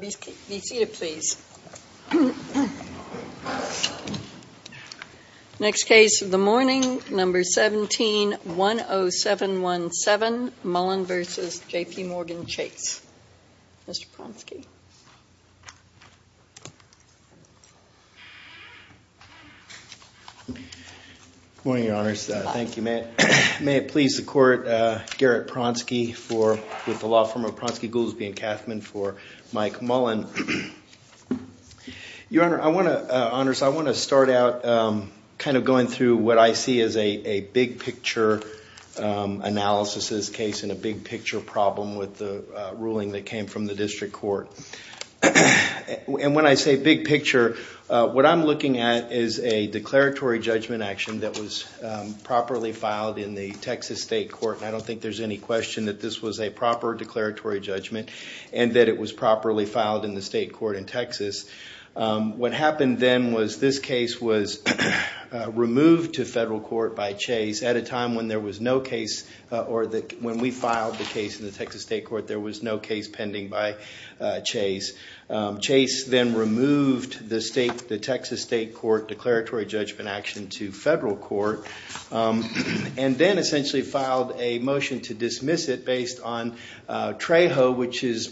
Be seated, please. Next case of the morning, No. 17-10717, Mullen v. JPMorgan Chase. Mr. Pronsky. Good morning, Your Honors. Thank you. May it please the Court, Garrett Pronsky with the law firm of Pronsky, Goolsbee & Kathman for Mike Mullen. Your Honor, I want to start out kind of going through what I see as a big-picture analysis of this case and a big-picture problem with the ruling that came from the District Court. And when I say big-picture, what I'm looking at is a declaratory judgment action that was properly filed in the Texas state court. I don't think there's any question that this was a proper declaratory judgment and that it was properly filed in the state court in Texas. What happened then was this case was removed to federal court by Chase at a time when there was no case or when we filed the case in the Texas state court, there was no case pending by Chase. Chase then removed the Texas state court declaratory judgment action to federal court and then essentially filed a motion to dismiss it based on Trejo, which is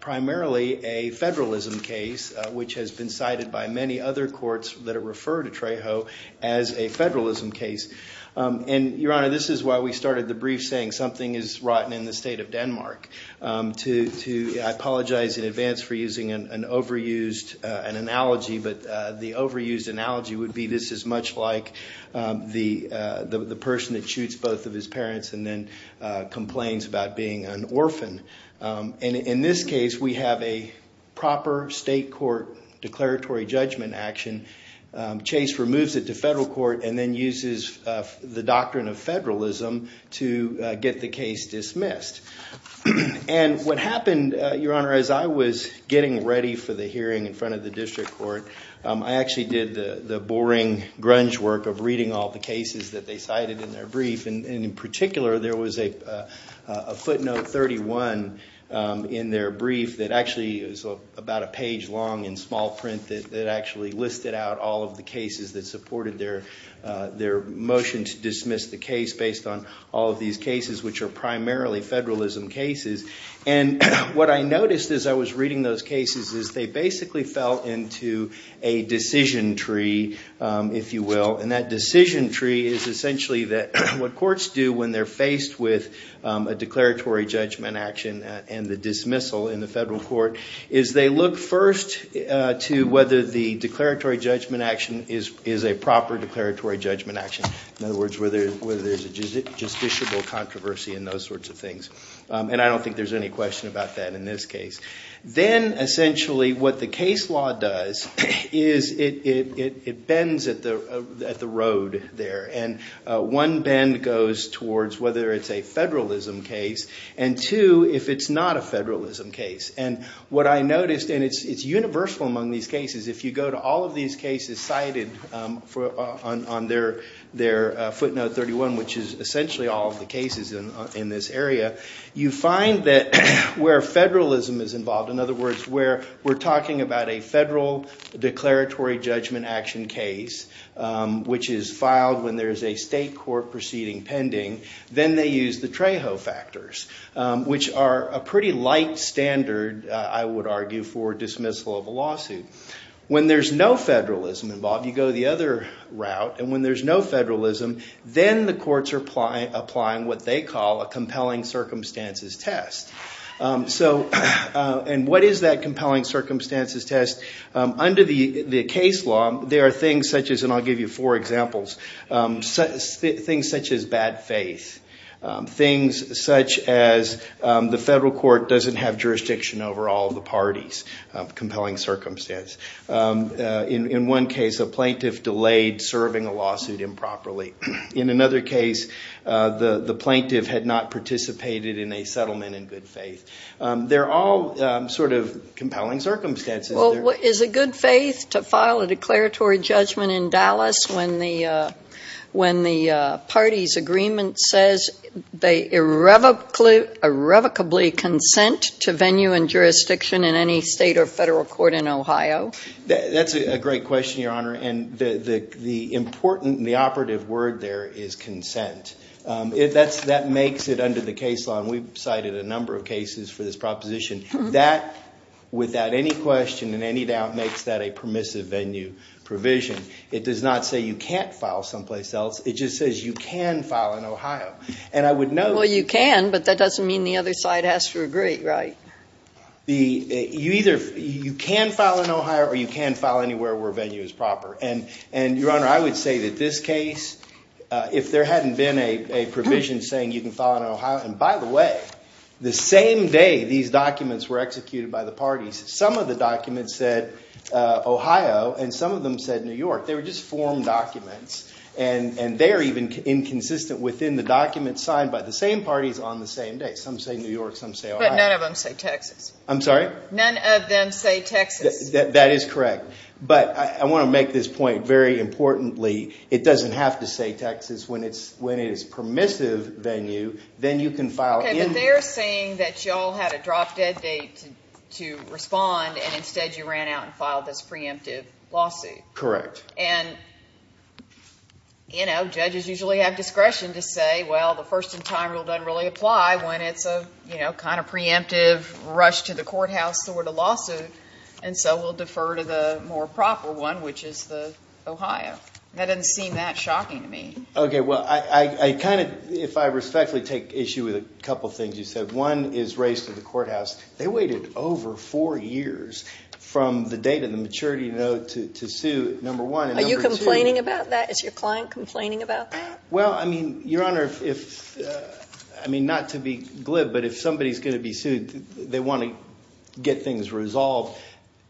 primarily a federalism case, which has been cited by many other courts that refer to Trejo as a federalism case. And, Your Honor, this is why we started the brief saying something is rotten in the state of Denmark. I apologize in advance for using an overused analogy, but the overused analogy would be this is much like the person that shoots both of his parents and then complains about being an orphan. In this case, we have a proper state court declaratory judgment action. Chase removes it to federal court and then uses the doctrine of federalism to get the case dismissed. And what happened, Your Honor, as I was getting ready for the hearing in front of the district court, I actually did the boring grunge work of reading all the cases that they cited in their brief. And in particular, there was a footnote 31 in their brief that actually was about a page long in small print that actually listed out all of the cases that supported their motion to dismiss the case based on all of these cases, which are primarily federalism cases. And what I noticed as I was reading those cases is they basically fell into a decision tree, if you will. And that decision tree is essentially that what courts do when they're faced with a declaratory judgment action and the dismissal in the federal court is they look first to whether the declaratory judgment action is a proper declaratory judgment action. In other words, whether there's a justiciable controversy and those sorts of things. And I don't think there's any question about that in this case. Then essentially what the case law does is it bends at the road there. And one bend goes towards whether it's a federalism case and two, if it's not a federalism case. And what I noticed, and it's universal among these cases, if you go to all of these cases cited on their footnote 31, which is essentially all of the cases in this area, you find that where federalism is involved, in other words, where we're talking about a federal declaratory judgment action case, which is filed when there's a state court proceeding pending, then they use the Trejo factors, which are a pretty light standard, I would argue, for dismissal of a lawsuit. When there's no federalism involved, you go the other route. And when there's no federalism, then the courts are applying what they call a compelling circumstances test. And what is that compelling circumstances test? Under the case law, there are things such as, and I'll give you four examples, things such as bad faith, things such as the federal court doesn't have jurisdiction over all of the parties, compelling circumstance. In one case, a plaintiff delayed serving a lawsuit improperly. In another case, the plaintiff had not participated in a settlement in good faith. They're all sort of compelling circumstances. Well, is it good faith to file a declaratory judgment in Dallas when the party's agreement says they irrevocably consent to venue and jurisdiction in any state or federal court in Ohio? That's a great question, Your Honor, and the important, the operative word there is consent. That makes it under the case law, and we've cited a number of cases for this proposition. That, without any question and any doubt, makes that a permissive venue provision. It does not say you can't file someplace else. It just says you can file in Ohio. And I would note- Well, you can, but that doesn't mean the other side has to agree, right? You either, you can file in Ohio or you can file anywhere where venue is proper. And, Your Honor, I would say that this case, if there hadn't been a provision saying you can file in Ohio, and by the way, the same day these documents were executed by the parties, some of the documents said Ohio and some of them said New York. They were just form documents, and they are even inconsistent within the documents signed by the same parties on the same day. Some say New York, some say Ohio. But none of them say Texas. I'm sorry? None of them say Texas. That is correct. But I want to make this point very importantly. It doesn't have to say Texas. When it is permissive venue, then you can file in- Okay, but they are saying that you all had a drop-dead date to respond, and instead you ran out and filed this preemptive lawsuit. Correct. And, you know, judges usually have discretion to say, well, the first-in-time rule doesn't really apply when it's a, you know, kind of preemptive rush-to-the-courthouse sort of lawsuit. And so we'll defer to the more proper one, which is the Ohio. That doesn't seem that shocking to me. Okay, well, I kind of, if I respectfully take issue with a couple things you said. One is race to the courthouse. They waited over four years from the date of the maturity note to sue, number one, and number two- Are you complaining about that? Is your client complaining about that? Well, I mean, Your Honor, if, I mean, not to be glib, but if somebody's going to be sued, they want to get things resolved.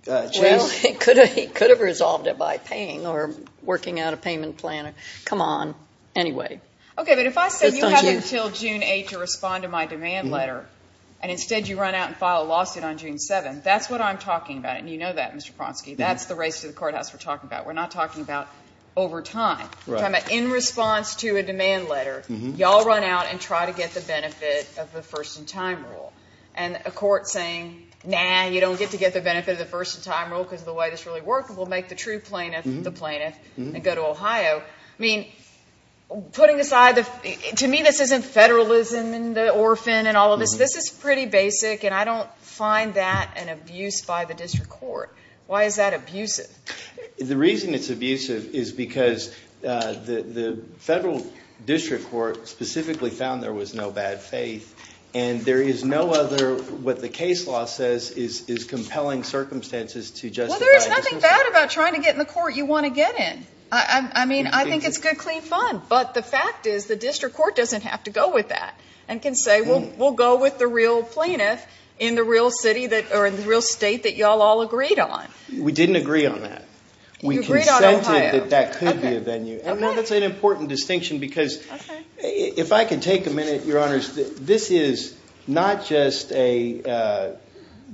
Well, he could have resolved it by paying or working out a payment plan. Come on. Anyway. Okay, but if I said you have until June 8 to respond to my demand letter, and instead you run out and file a lawsuit on June 7, that's what I'm talking about. And you know that, Mr. Ponsky. That's the race to the courthouse we're talking about. We're not talking about over time. We're talking about in response to a demand letter. Y'all run out and try to get the benefit of the first-in-time rule. And a court saying, nah, you don't get to get the benefit of the first-in-time rule because of the way this really works. We'll make the true plaintiff the plaintiff and go to Ohio. I mean, putting aside the- to me, this isn't federalism and the orphan and all of this. This is pretty basic, and I don't find that an abuse by the district court. Why is that abusive? The reason it's abusive is because the federal district court specifically found there was no bad faith, and there is no other what the case law says is compelling circumstances to justify- Well, there is nothing bad about trying to get in the court you want to get in. I mean, I think it's good, clean fun, but the fact is the district court doesn't have to go with that and can say, well, we'll go with the real plaintiff in the real city that- or in the real state that y'all all agreed on. We didn't agree on that. You agreed on Ohio. We consented that that could be a venue, and that's an important distinction because- Okay. If I could take a minute, Your Honors, this is not just a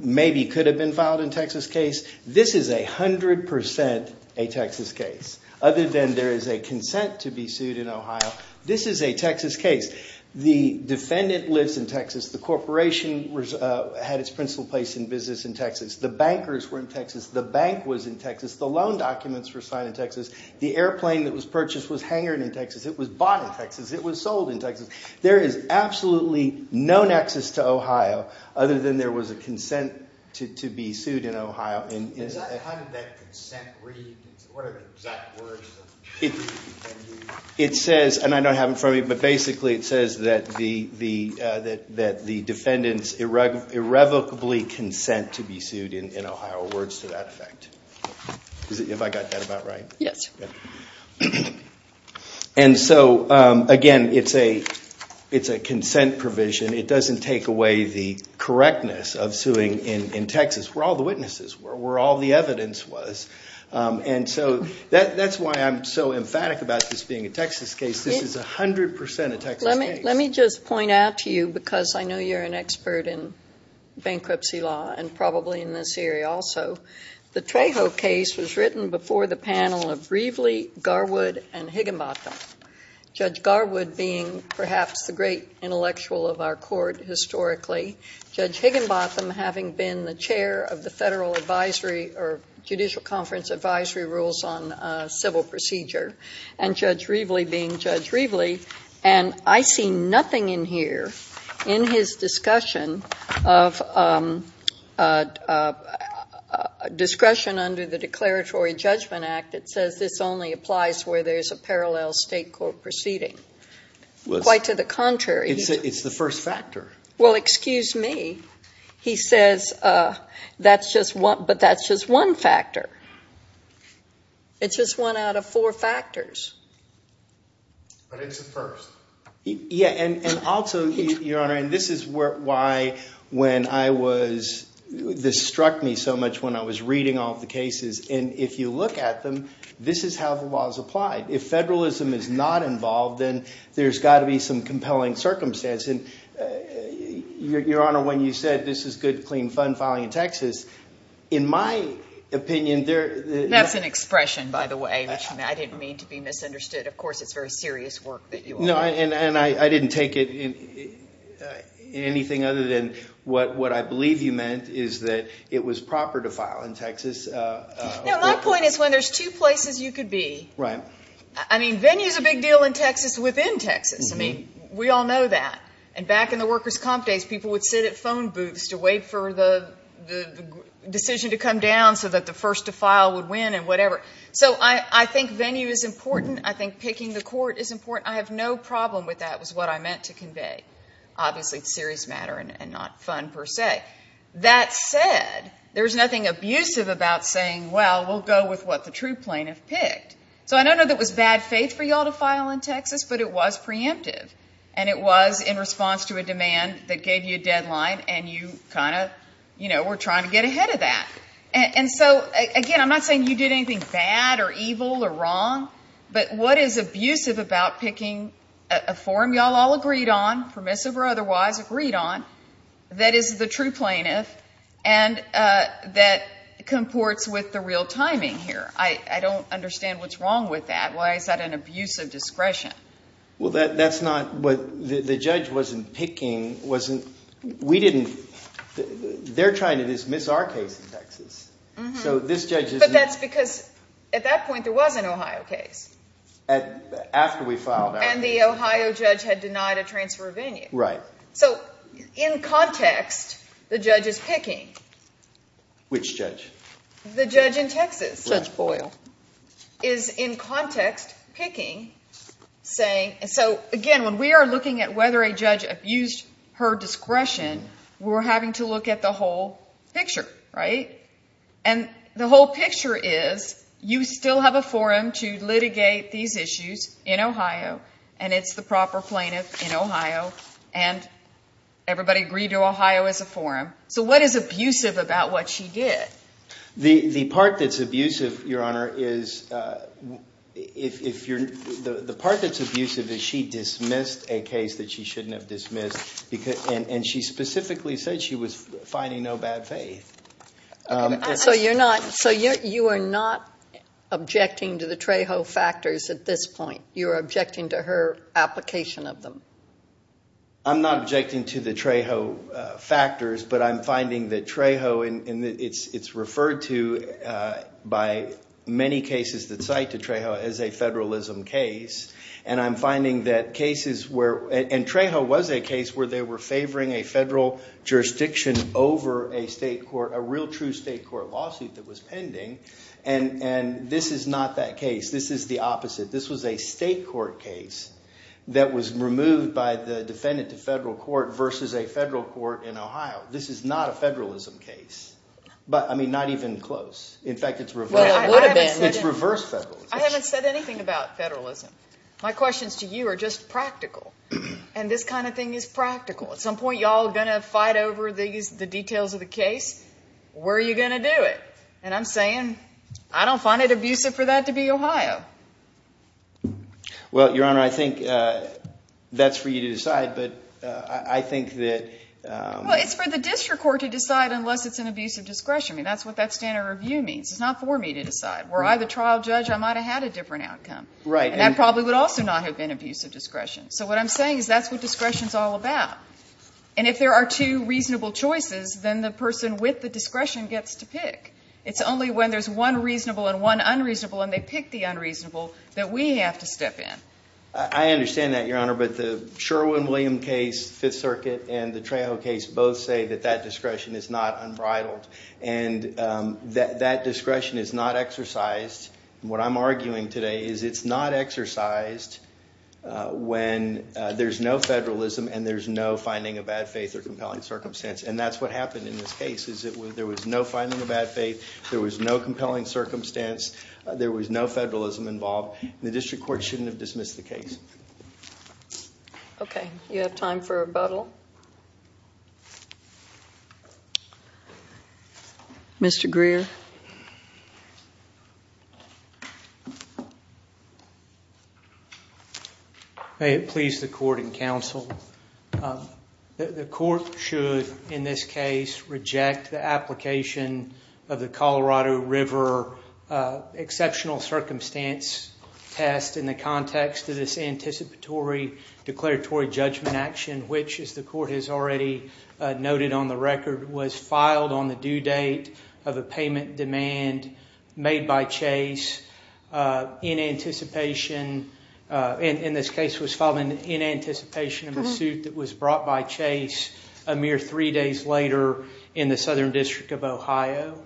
maybe could have been filed in Texas case. This is 100% a Texas case. Other than there is a consent to be sued in Ohio, this is a Texas case. The defendant lives in Texas. The corporation had its principal place in business in Texas. The bankers were in Texas. The bank was in Texas. The loan documents were signed in Texas. The airplane that was purchased was hangered in Texas. It was bought in Texas. It was sold in Texas. There is absolutely no nexus to Ohio other than there was a consent to be sued in Ohio. How did that consent read? What are the exact words? It says, and I don't have it in front of me, but basically it says that the defendants irrevocably consent to be sued in Ohio. Words to that effect. Have I got that about right? Yes. And so, again, it's a consent provision. It doesn't take away the correctness of suing in Texas where all the witnesses were, where all the evidence was. And so that's why I'm so emphatic about this being a Texas case. This is 100% a Texas case. Let me just point out to you, because I know you're an expert in bankruptcy law and probably in this area also, the Trejo case was written before the panel of Brevely, Garwood, and Higginbotham. Judge Garwood being perhaps the great intellectual of our court historically, Judge Higginbotham having been the chair of the Federal Advisory or Judicial Conference Advisory Rules on Civil Procedure, and Judge Reveley being Judge Reveley. And I see nothing in here in his discussion of discretion under the Declaratory Judgment Act that says this only applies where there's a parallel state court proceeding. Quite to the contrary. It's the first factor. Well, excuse me. He says, but that's just one factor. It's just one out of four factors. But it's the first. Yeah, and also, Your Honor, and this is why this struck me so much when I was reading all the cases. And if you look at them, this is how the law is applied. If federalism is not involved, then there's got to be some compelling circumstance. And, Your Honor, when you said this is good, clean, fun filing in Texas, in my opinion, there – That's an expression, by the way, which I didn't mean to be misunderstood. Of course, it's very serious work that you are doing. No, and I didn't take it in anything other than what I believe you meant is that it was proper to file in Texas. No, my point is when there's two places you could be. Right. I mean, venue is a big deal in Texas within Texas. I mean, we all know that. And back in the workers' comp days, people would sit at phone booths to wait for the decision to come down so that the first to file would win and whatever. So I think venue is important. I think picking the court is important. I have no problem with that was what I meant to convey. Obviously, it's a serious matter and not fun per se. That said, there's nothing abusive about saying, well, we'll go with what the true plaintiff picked. So I don't know that it was bad faith for you all to file in Texas, but it was preemptive. And it was in response to a demand that gave you a deadline, and you kind of, you know, were trying to get ahead of that. And so, again, I'm not saying you did anything bad or evil or wrong, but what is abusive about picking a form you all all agreed on, permissive or otherwise, agreed on, that is the true plaintiff and that comports with the real timing here. I don't understand what's wrong with that. Why is that an abuse of discretion? Well, that's not what the judge wasn't picking, wasn't, we didn't, they're trying to dismiss our case in Texas. So this judge isn't. But that's because at that point there was an Ohio case. After we filed out. And the Ohio judge had denied a transfer of venue. Right. So in context, the judge is picking. Which judge? The judge in Texas. Judge Boyle. Is in context picking, saying, and so, again, when we are looking at whether a judge abused her discretion, we're having to look at the whole picture, right? And the whole picture is, you still have a forum to litigate these issues in Ohio, and it's the proper plaintiff in Ohio, and everybody agreed to Ohio as a forum. So what is abusive about what she did? The part that's abusive, Your Honor, is if you're, the part that's abusive is she dismissed a case that she shouldn't have dismissed, and she specifically said she was finding no bad faith. So you're not, so you are not objecting to the Trejo factors at this point. You're objecting to her application of them. I'm not objecting to the Trejo factors, but I'm finding that Trejo, and it's referred to by many cases that cite to Trejo as a federalism case. And I'm finding that cases where, and Trejo was a case where they were favoring a federal jurisdiction over a state court, a real true state court lawsuit that was pending. And this is not that case. This is the opposite. This was a state court case that was removed by the defendant to federal court versus a federal court in Ohio. This is not a federalism case, but, I mean, not even close. In fact, it's reverse federalism. I haven't said anything about federalism. My questions to you are just practical, and this kind of thing is practical. At some point, y'all are going to fight over the details of the case. Where are you going to do it? And I'm saying I don't find it abusive for that to be Ohio. Well, Your Honor, I think that's for you to decide, but I think that… Well, it's for the district court to decide unless it's an abusive discretion. I mean, that's what that standard review means. It's not for me to decide. Were I the trial judge, I might have had a different outcome. Right. And that probably would also not have been abusive discretion. So what I'm saying is that's what discretion is all about. And if there are two reasonable choices, then the person with the discretion gets to pick. It's only when there's one reasonable and one unreasonable, and they pick the unreasonable, that we have to step in. I understand that, Your Honor, but the Sherwin-Williams case, Fifth Circuit, and the Trejo case both say that that discretion is not unbridled. And that discretion is not exercised. What I'm arguing today is it's not exercised when there's no federalism and there's no finding of bad faith or compelling circumstance. And that's what happened in this case, is that there was no finding of bad faith, there was no compelling circumstance, there was no federalism involved, and the district court shouldn't have dismissed the case. Okay. You have time for rebuttal. Mr. Greer. May it please the court and counsel, the court should, in this case, reject the application of the Colorado River exceptional circumstance test in the context of this anticipatory declaratory judgment action, which, as the court has already noted on the record, was filed on the due date of a payment demand made by Chase in anticipation, in this case was filed in anticipation of a suit that was brought by Chase a mere three days later in the Southern District of Ohio.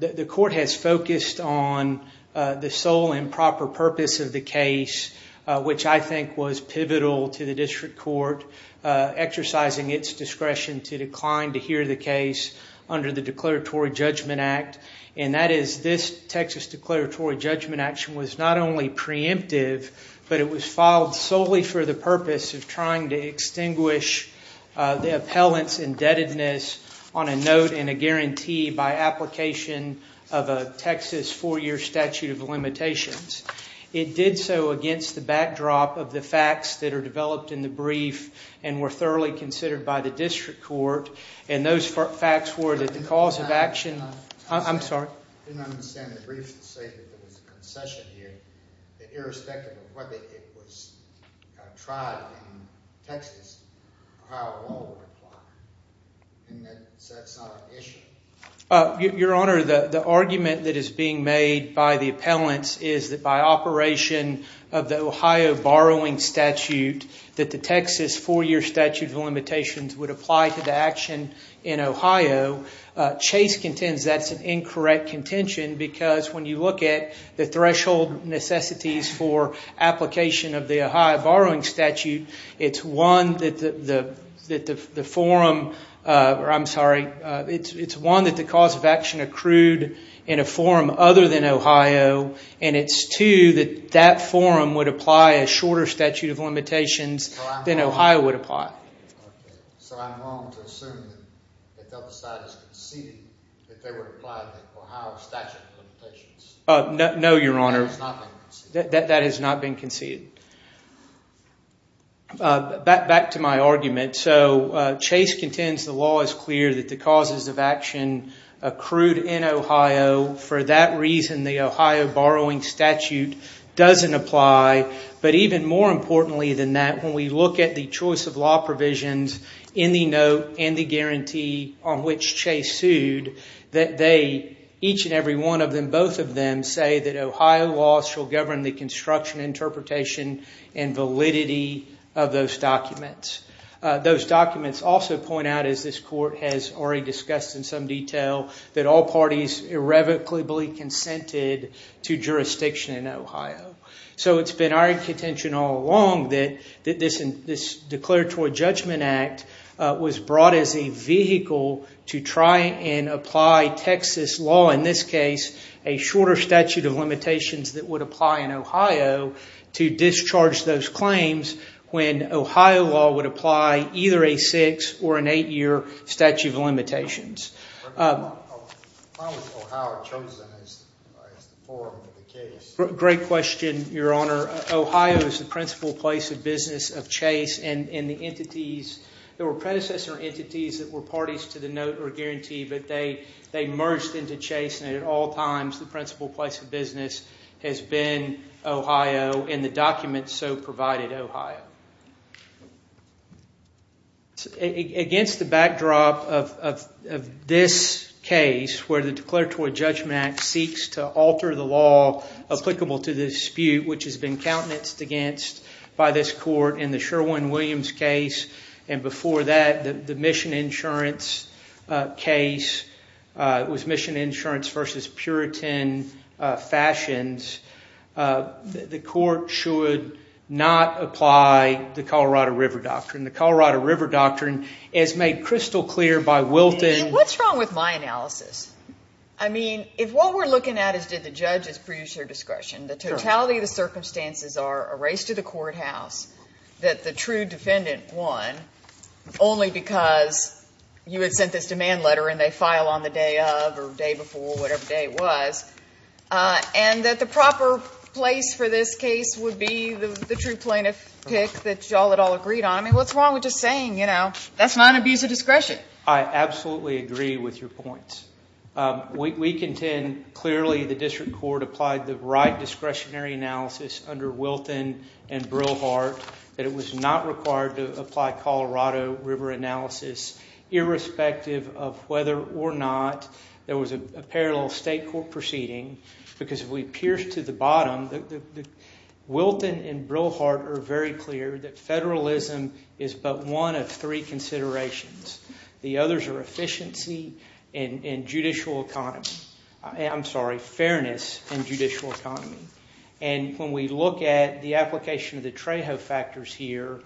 The court has focused on the sole and proper purpose of the case, which I think was pivotal to the district court exercising its discretion to decline to hear the case under the declaratory judgment act, and that is this Texas declaratory judgment action was not only preemptive, but it was filed solely for the purpose of trying to extinguish the appellant's indebtedness on a note and a guarantee by application of a Texas four-year statute of limitations. It did so against the backdrop of the facts that are developed in the brief and were thoroughly considered by the district court, and those facts were that the cause of action- I'm sorry. I didn't understand the brief to say that there was a concession here, that irrespective of whether it was tried in Texas, Ohio law would apply, and that's not an issue. Your Honor, the argument that is being made by the appellants is that by operation of the Ohio borrowing statute that the Texas four-year statute of limitations would apply to the action in Ohio. Chase contends that's an incorrect contention because when you look at the threshold necessities for application of the Ohio borrowing statute, it's one that the forum- it's one that the cause of action accrued in a forum other than Ohio, and it's two that that forum would apply a shorter statute of limitations than Ohio would apply. So I'm wrong to assume that the other side has conceded that they would apply the Ohio statute of limitations? No, Your Honor. That has not been conceded? That has not been conceded. Back to my argument. So Chase contends the law is clear that the causes of action accrued in Ohio. For that reason, the Ohio borrowing statute doesn't apply, but even more importantly than that, when we look at the choice of law provisions in the note and the guarantee on which Chase sued, that they, each and every one of them, both of them, say that Ohio law shall govern the construction, interpretation, and validity of those documents. Those documents also point out, as this court has already discussed in some detail, that all parties irrevocably consented to jurisdiction in Ohio. So it's been our contention all along that this declaratory judgment act was brought as a vehicle to try and apply Texas law, in this case a shorter statute of limitations that would apply in Ohio, to discharge those claims when Ohio law would apply either a six- or an eight-year statute of limitations. How was Ohio chosen as the forum for the case? Great question, Your Honor. Ohio is the principal place of business of Chase, and the entities, there were predecessor entities that were parties to the note or guarantee, but they merged into Chase, and at all times the principal place of business has been Ohio, and the documents so provided Ohio. Against the backdrop of this case, where the declaratory judgment act seeks to alter the law applicable to the dispute, which has been countenanced against by this court, in the Sherwin-Williams case, and before that the mission insurance case, it was mission insurance versus Puritan fashions, the court should not apply the Colorado River Doctrine. The Colorado River Doctrine is made crystal clear by Wilton. What's wrong with my analysis? I mean, if what we're looking at is did the judges produce their discretion, the totality of the circumstances are a race to the courthouse, that the true defendant won only because you had sent this demand letter, and they file on the day of or day before, whatever day it was, and that the proper place for this case would be the true plaintiff pick that you all had all agreed on. I mean, what's wrong with just saying, you know, that's not an abuse of discretion? I absolutely agree with your points. We contend clearly the district court applied the right discretionary analysis under Wilton and Brillhardt that it was not required to apply Colorado River analysis, irrespective of whether or not there was a parallel state court proceeding, because if we pierce to the bottom, Wilton and Brillhardt are very clear that federalism is but one of three considerations. The others are efficiency and judicial economy. I'm sorry, fairness and judicial economy. And when we look at the application of the Trejo factors here,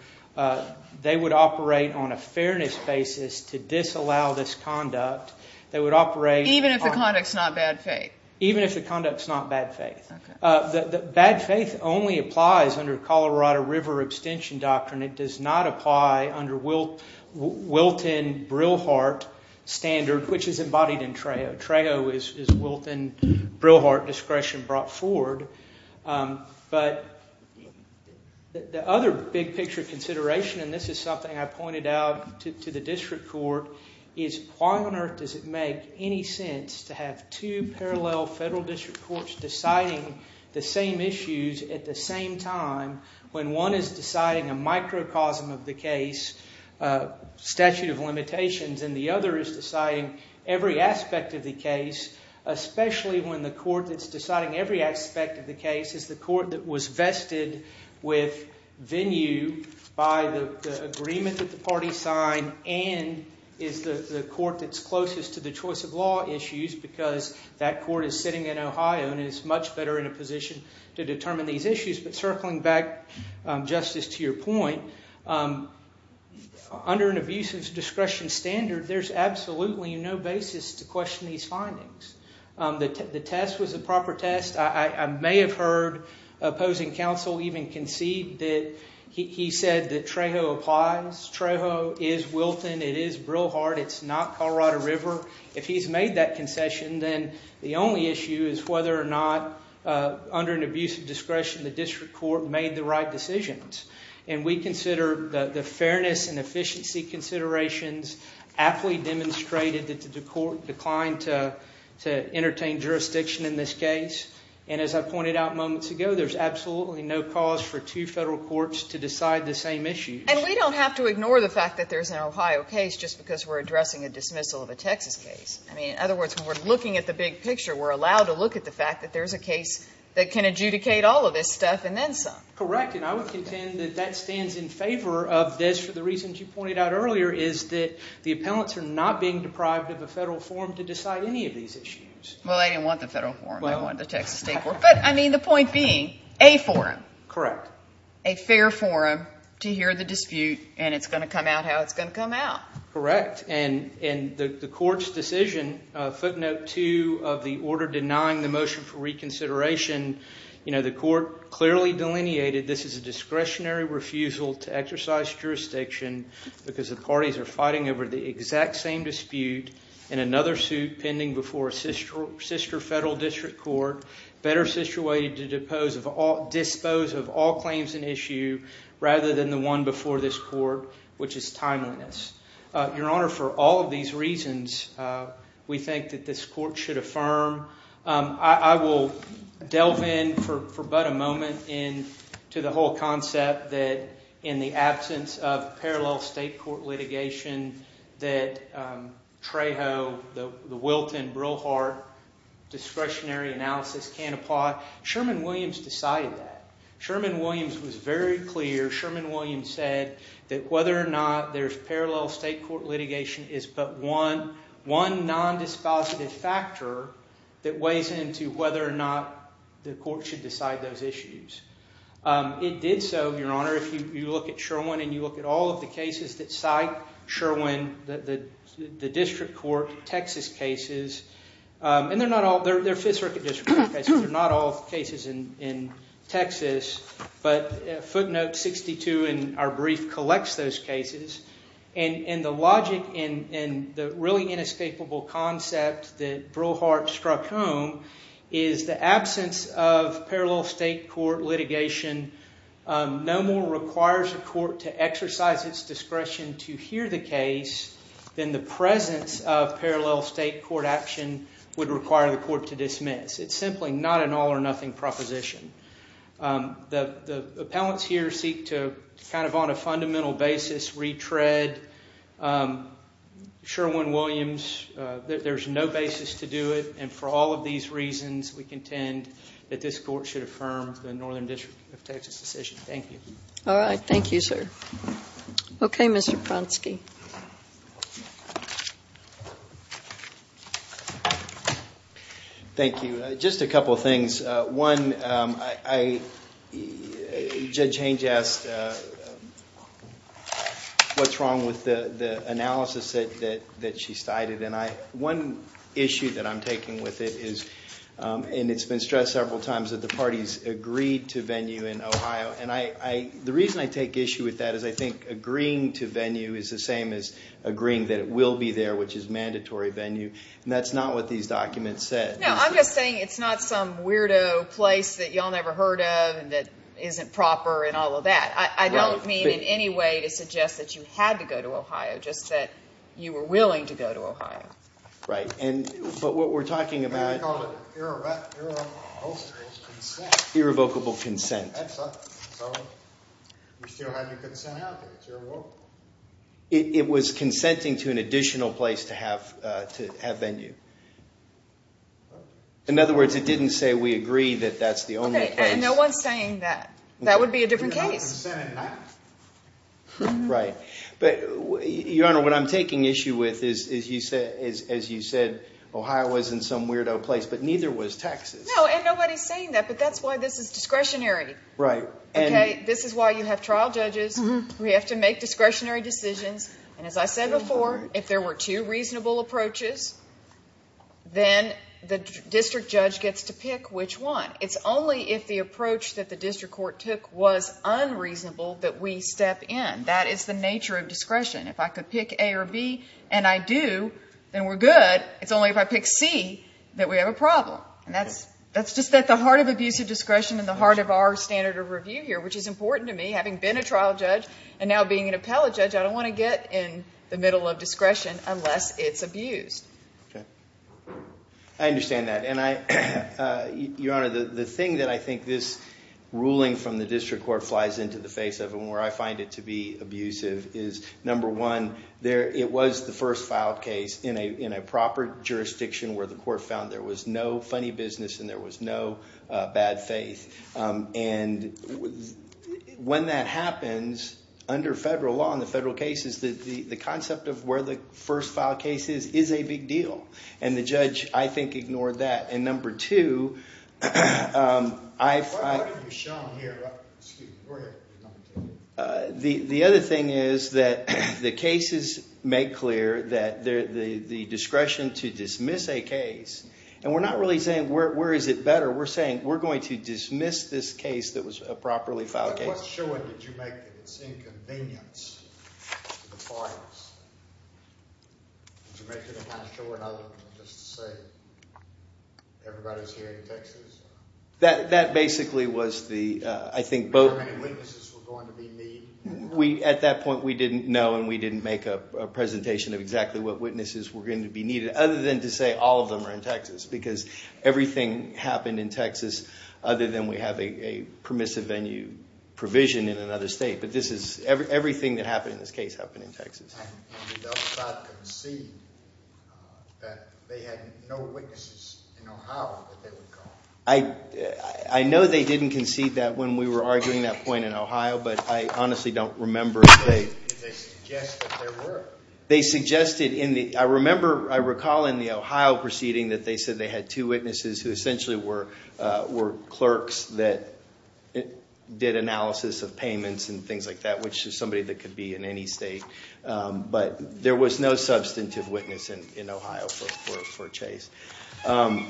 they would operate on a fairness basis to disallow this conduct. They would operate on- Even if the conduct's not bad faith? Even if the conduct's not bad faith. Bad faith only applies under Colorado River abstention doctrine. It does not apply under Wilton-Brillhardt standard, which is embodied in Trejo. Trejo is Wilton-Brillhardt discretion brought forward. But the other big picture consideration, and this is something I pointed out to the district court, is why on earth does it make any sense to have two parallel federal district courts deciding the same issues at the same time when one is deciding a microcosm of the case, statute of limitations, and the other is deciding every aspect of the case, especially when the court that's deciding every aspect of the case is the court that was vested with venue by the agreement that the party signed and is the court that's closest to the choice of law issues because that court is sitting in Ohio and is much better in a position to determine these issues. But circling back, Justice, to your point, under an abusive discretion standard, there's absolutely no basis to question these findings. The test was a proper test. I may have heard opposing counsel even concede that he said that Trejo applies. Trejo is Wilton. It is Brillhardt. It's not Colorado River. If he's made that concession, then the only issue is whether or not under an abusive discretion the district court made the right decisions. And we consider the fairness and efficiency considerations aptly demonstrated that the court declined to entertain jurisdiction in this case. And as I pointed out moments ago, there's absolutely no cause for two federal courts to decide the same issues. And we don't have to ignore the fact that there's an Ohio case just because we're addressing a dismissal of a Texas case. In other words, when we're looking at the big picture, we're allowed to look at the fact that there's a case that can adjudicate all of this stuff and then some. Correct. And I would contend that that stands in favor of this for the reasons you pointed out earlier, is that the appellants are not being deprived of a federal forum to decide any of these issues. Well, they didn't want the federal forum. They wanted the Texas State Court. But, I mean, the point being, a forum. Correct. A fair forum to hear the dispute and it's going to come out how it's going to come out. Correct. And the court's decision, footnote two of the order denying the motion for reconsideration, the court clearly delineated this is a discretionary refusal to exercise jurisdiction because the parties are fighting over the exact same dispute in another suit pending before a sister federal district court better situated to dispose of all claims in issue rather than the one before this court, which is timeliness. Your Honor, for all of these reasons, we think that this court should affirm. I will delve in for but a moment into the whole concept that in the absence of parallel state court litigation that Trejo, the Wilton, Brillhart discretionary analysis can't apply. Sherman Williams decided that. Sherman Williams was very clear. Sherman Williams said that whether or not there's parallel state court litigation is but one non-dispositive factor that weighs into whether or not the court should decide those issues. It did so, Your Honor, if you look at Sherwin and you look at all of the cases that cite Sherwin, the district court, Texas cases, and they're not all. They're fifth circuit district court cases. They're not all cases in Texas. But footnote 62 in our brief collects those cases. And the logic and the really inescapable concept that Brillhart struck home is the absence of parallel state court litigation no more requires a court to exercise its discretion to hear the case than the presence of parallel state court action would require the court to dismiss. It's simply not an all or nothing proposition. The appellants here seek to kind of on a fundamental basis retread Sherwin Williams. There's no basis to do it. And for all of these reasons, we contend that this court should affirm the Northern District of Texas decision. Thank you. All right. Thank you, sir. Okay, Mr. Pronsky. Thank you. Just a couple of things. One, Judge Haynes asked what's wrong with the analysis that she cited. And one issue that I'm taking with it is, and it's been stressed several times, that the parties agreed to venue in Ohio. And the reason I take issue with that is I think agreeing to venue is the same as agreeing that it will be there, which is mandatory venue. And that's not what these documents said. No, I'm just saying it's not some weirdo place that you all never heard of and that isn't proper and all of that. I don't mean in any way to suggest that you had to go to Ohio, just that you were willing to go to Ohio. Right. But what we're talking about. Irrevocable consent. Irrevocable consent. That's right. So you still have your consent out there. It's irrevocable. It was consenting to an additional place to have venue. In other words, it didn't say we agree that that's the only place. Okay, and no one's saying that. That would be a different case. Right. But, Your Honor, what I'm taking issue with is, as you said, Ohio wasn't some weirdo place, but neither was Texas. No, and nobody's saying that, but that's why this is discretionary. Right. Okay, this is why you have trial judges. We have to make discretionary decisions, and as I said before, if there were two reasonable approaches, then the district judge gets to pick which one. It's only if the approach that the district court took was unreasonable that we step in. That is the nature of discretion. If I could pick A or B and I do, then we're good. It's only if I pick C that we have a problem, and that's just at the heart of abusive discretion and the heart of our standard of review here, which is important to me. Having been a trial judge and now being an appellate judge, I don't want to get in the middle of discretion unless it's abused. Okay. I understand that. Your Honor, the thing that I think this ruling from the district court flies into the face of and where I find it to be abusive is, number one, it was the first filed case in a proper jurisdiction where the court found there was no funny business and there was no bad faith. And when that happens under federal law in the federal cases, the concept of where the first filed case is is a big deal, and the judge, I think, ignored that. And number two, I find— What have you shown here? Excuse me. Go ahead. The other thing is that the cases make clear that the discretion to dismiss a case— and we're not really saying where is it better. We're saying we're going to dismiss this case that was a properly filed case. What showing did you make that it's inconvenience to the parties? Did you make sure they had to show another one just to say everybody's hearing Texas? That basically was the— How many witnesses were going to be needed? At that point, we didn't know, and we didn't make a presentation of exactly what witnesses were going to be needed, other than to say all of them are in Texas because everything happened in Texas other than we have a permissive venue provision in another state. But this is—everything that happened in this case happened in Texas. And did the other side concede that they had no witnesses in Ohio that they would call? I know they didn't concede that when we were arguing that point in Ohio, but I honestly don't remember if they— Did they suggest that there were? They suggested in the—I remember—I recall in the Ohio proceeding that they said they had two witnesses who essentially were clerks that did analysis of payments and things like that, which is somebody that could be in any state. But there was no substantive witness in Ohio for Chase. But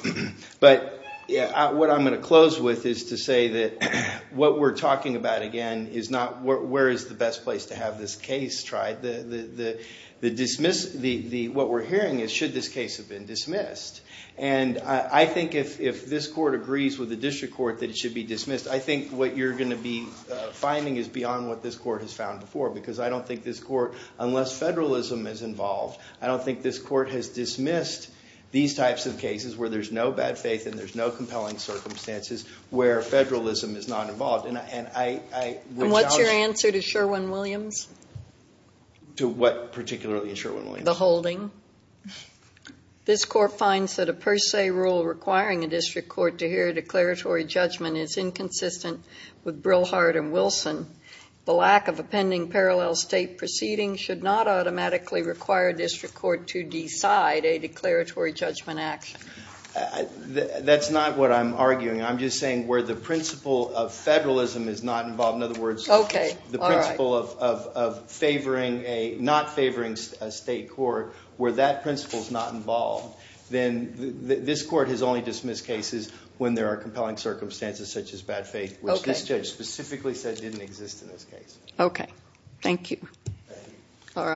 what I'm going to close with is to say that what we're talking about, again, is not where is the best place to have this case tried. The dismiss—what we're hearing is should this case have been dismissed. And I think if this court agrees with the district court that it should be dismissed, I think what you're going to be finding is beyond what this court has found before because I don't think this court, unless federalism is involved, I don't think this court has dismissed these types of cases where there's no bad faith and there's no compelling circumstances where federalism is not involved. And I would challenge— And what's your answer to Sherwin-Williams? To what particularly in Sherwin-Williams? The holding. This court finds that a per se rule requiring a district court to hear a declaratory judgment is inconsistent with Brillhart and Wilson. The lack of a pending parallel state proceeding should not automatically require a district court to decide a declaratory judgment action. That's not what I'm arguing. I'm just saying where the principle of federalism is not involved, in other words, the principle of favoring a—not favoring a state court, where that principle is not involved, then this court has only dismissed cases when there are compelling circumstances such as bad faith, which this judge specifically said didn't exist in this case. Okay. Thank you. Thank you.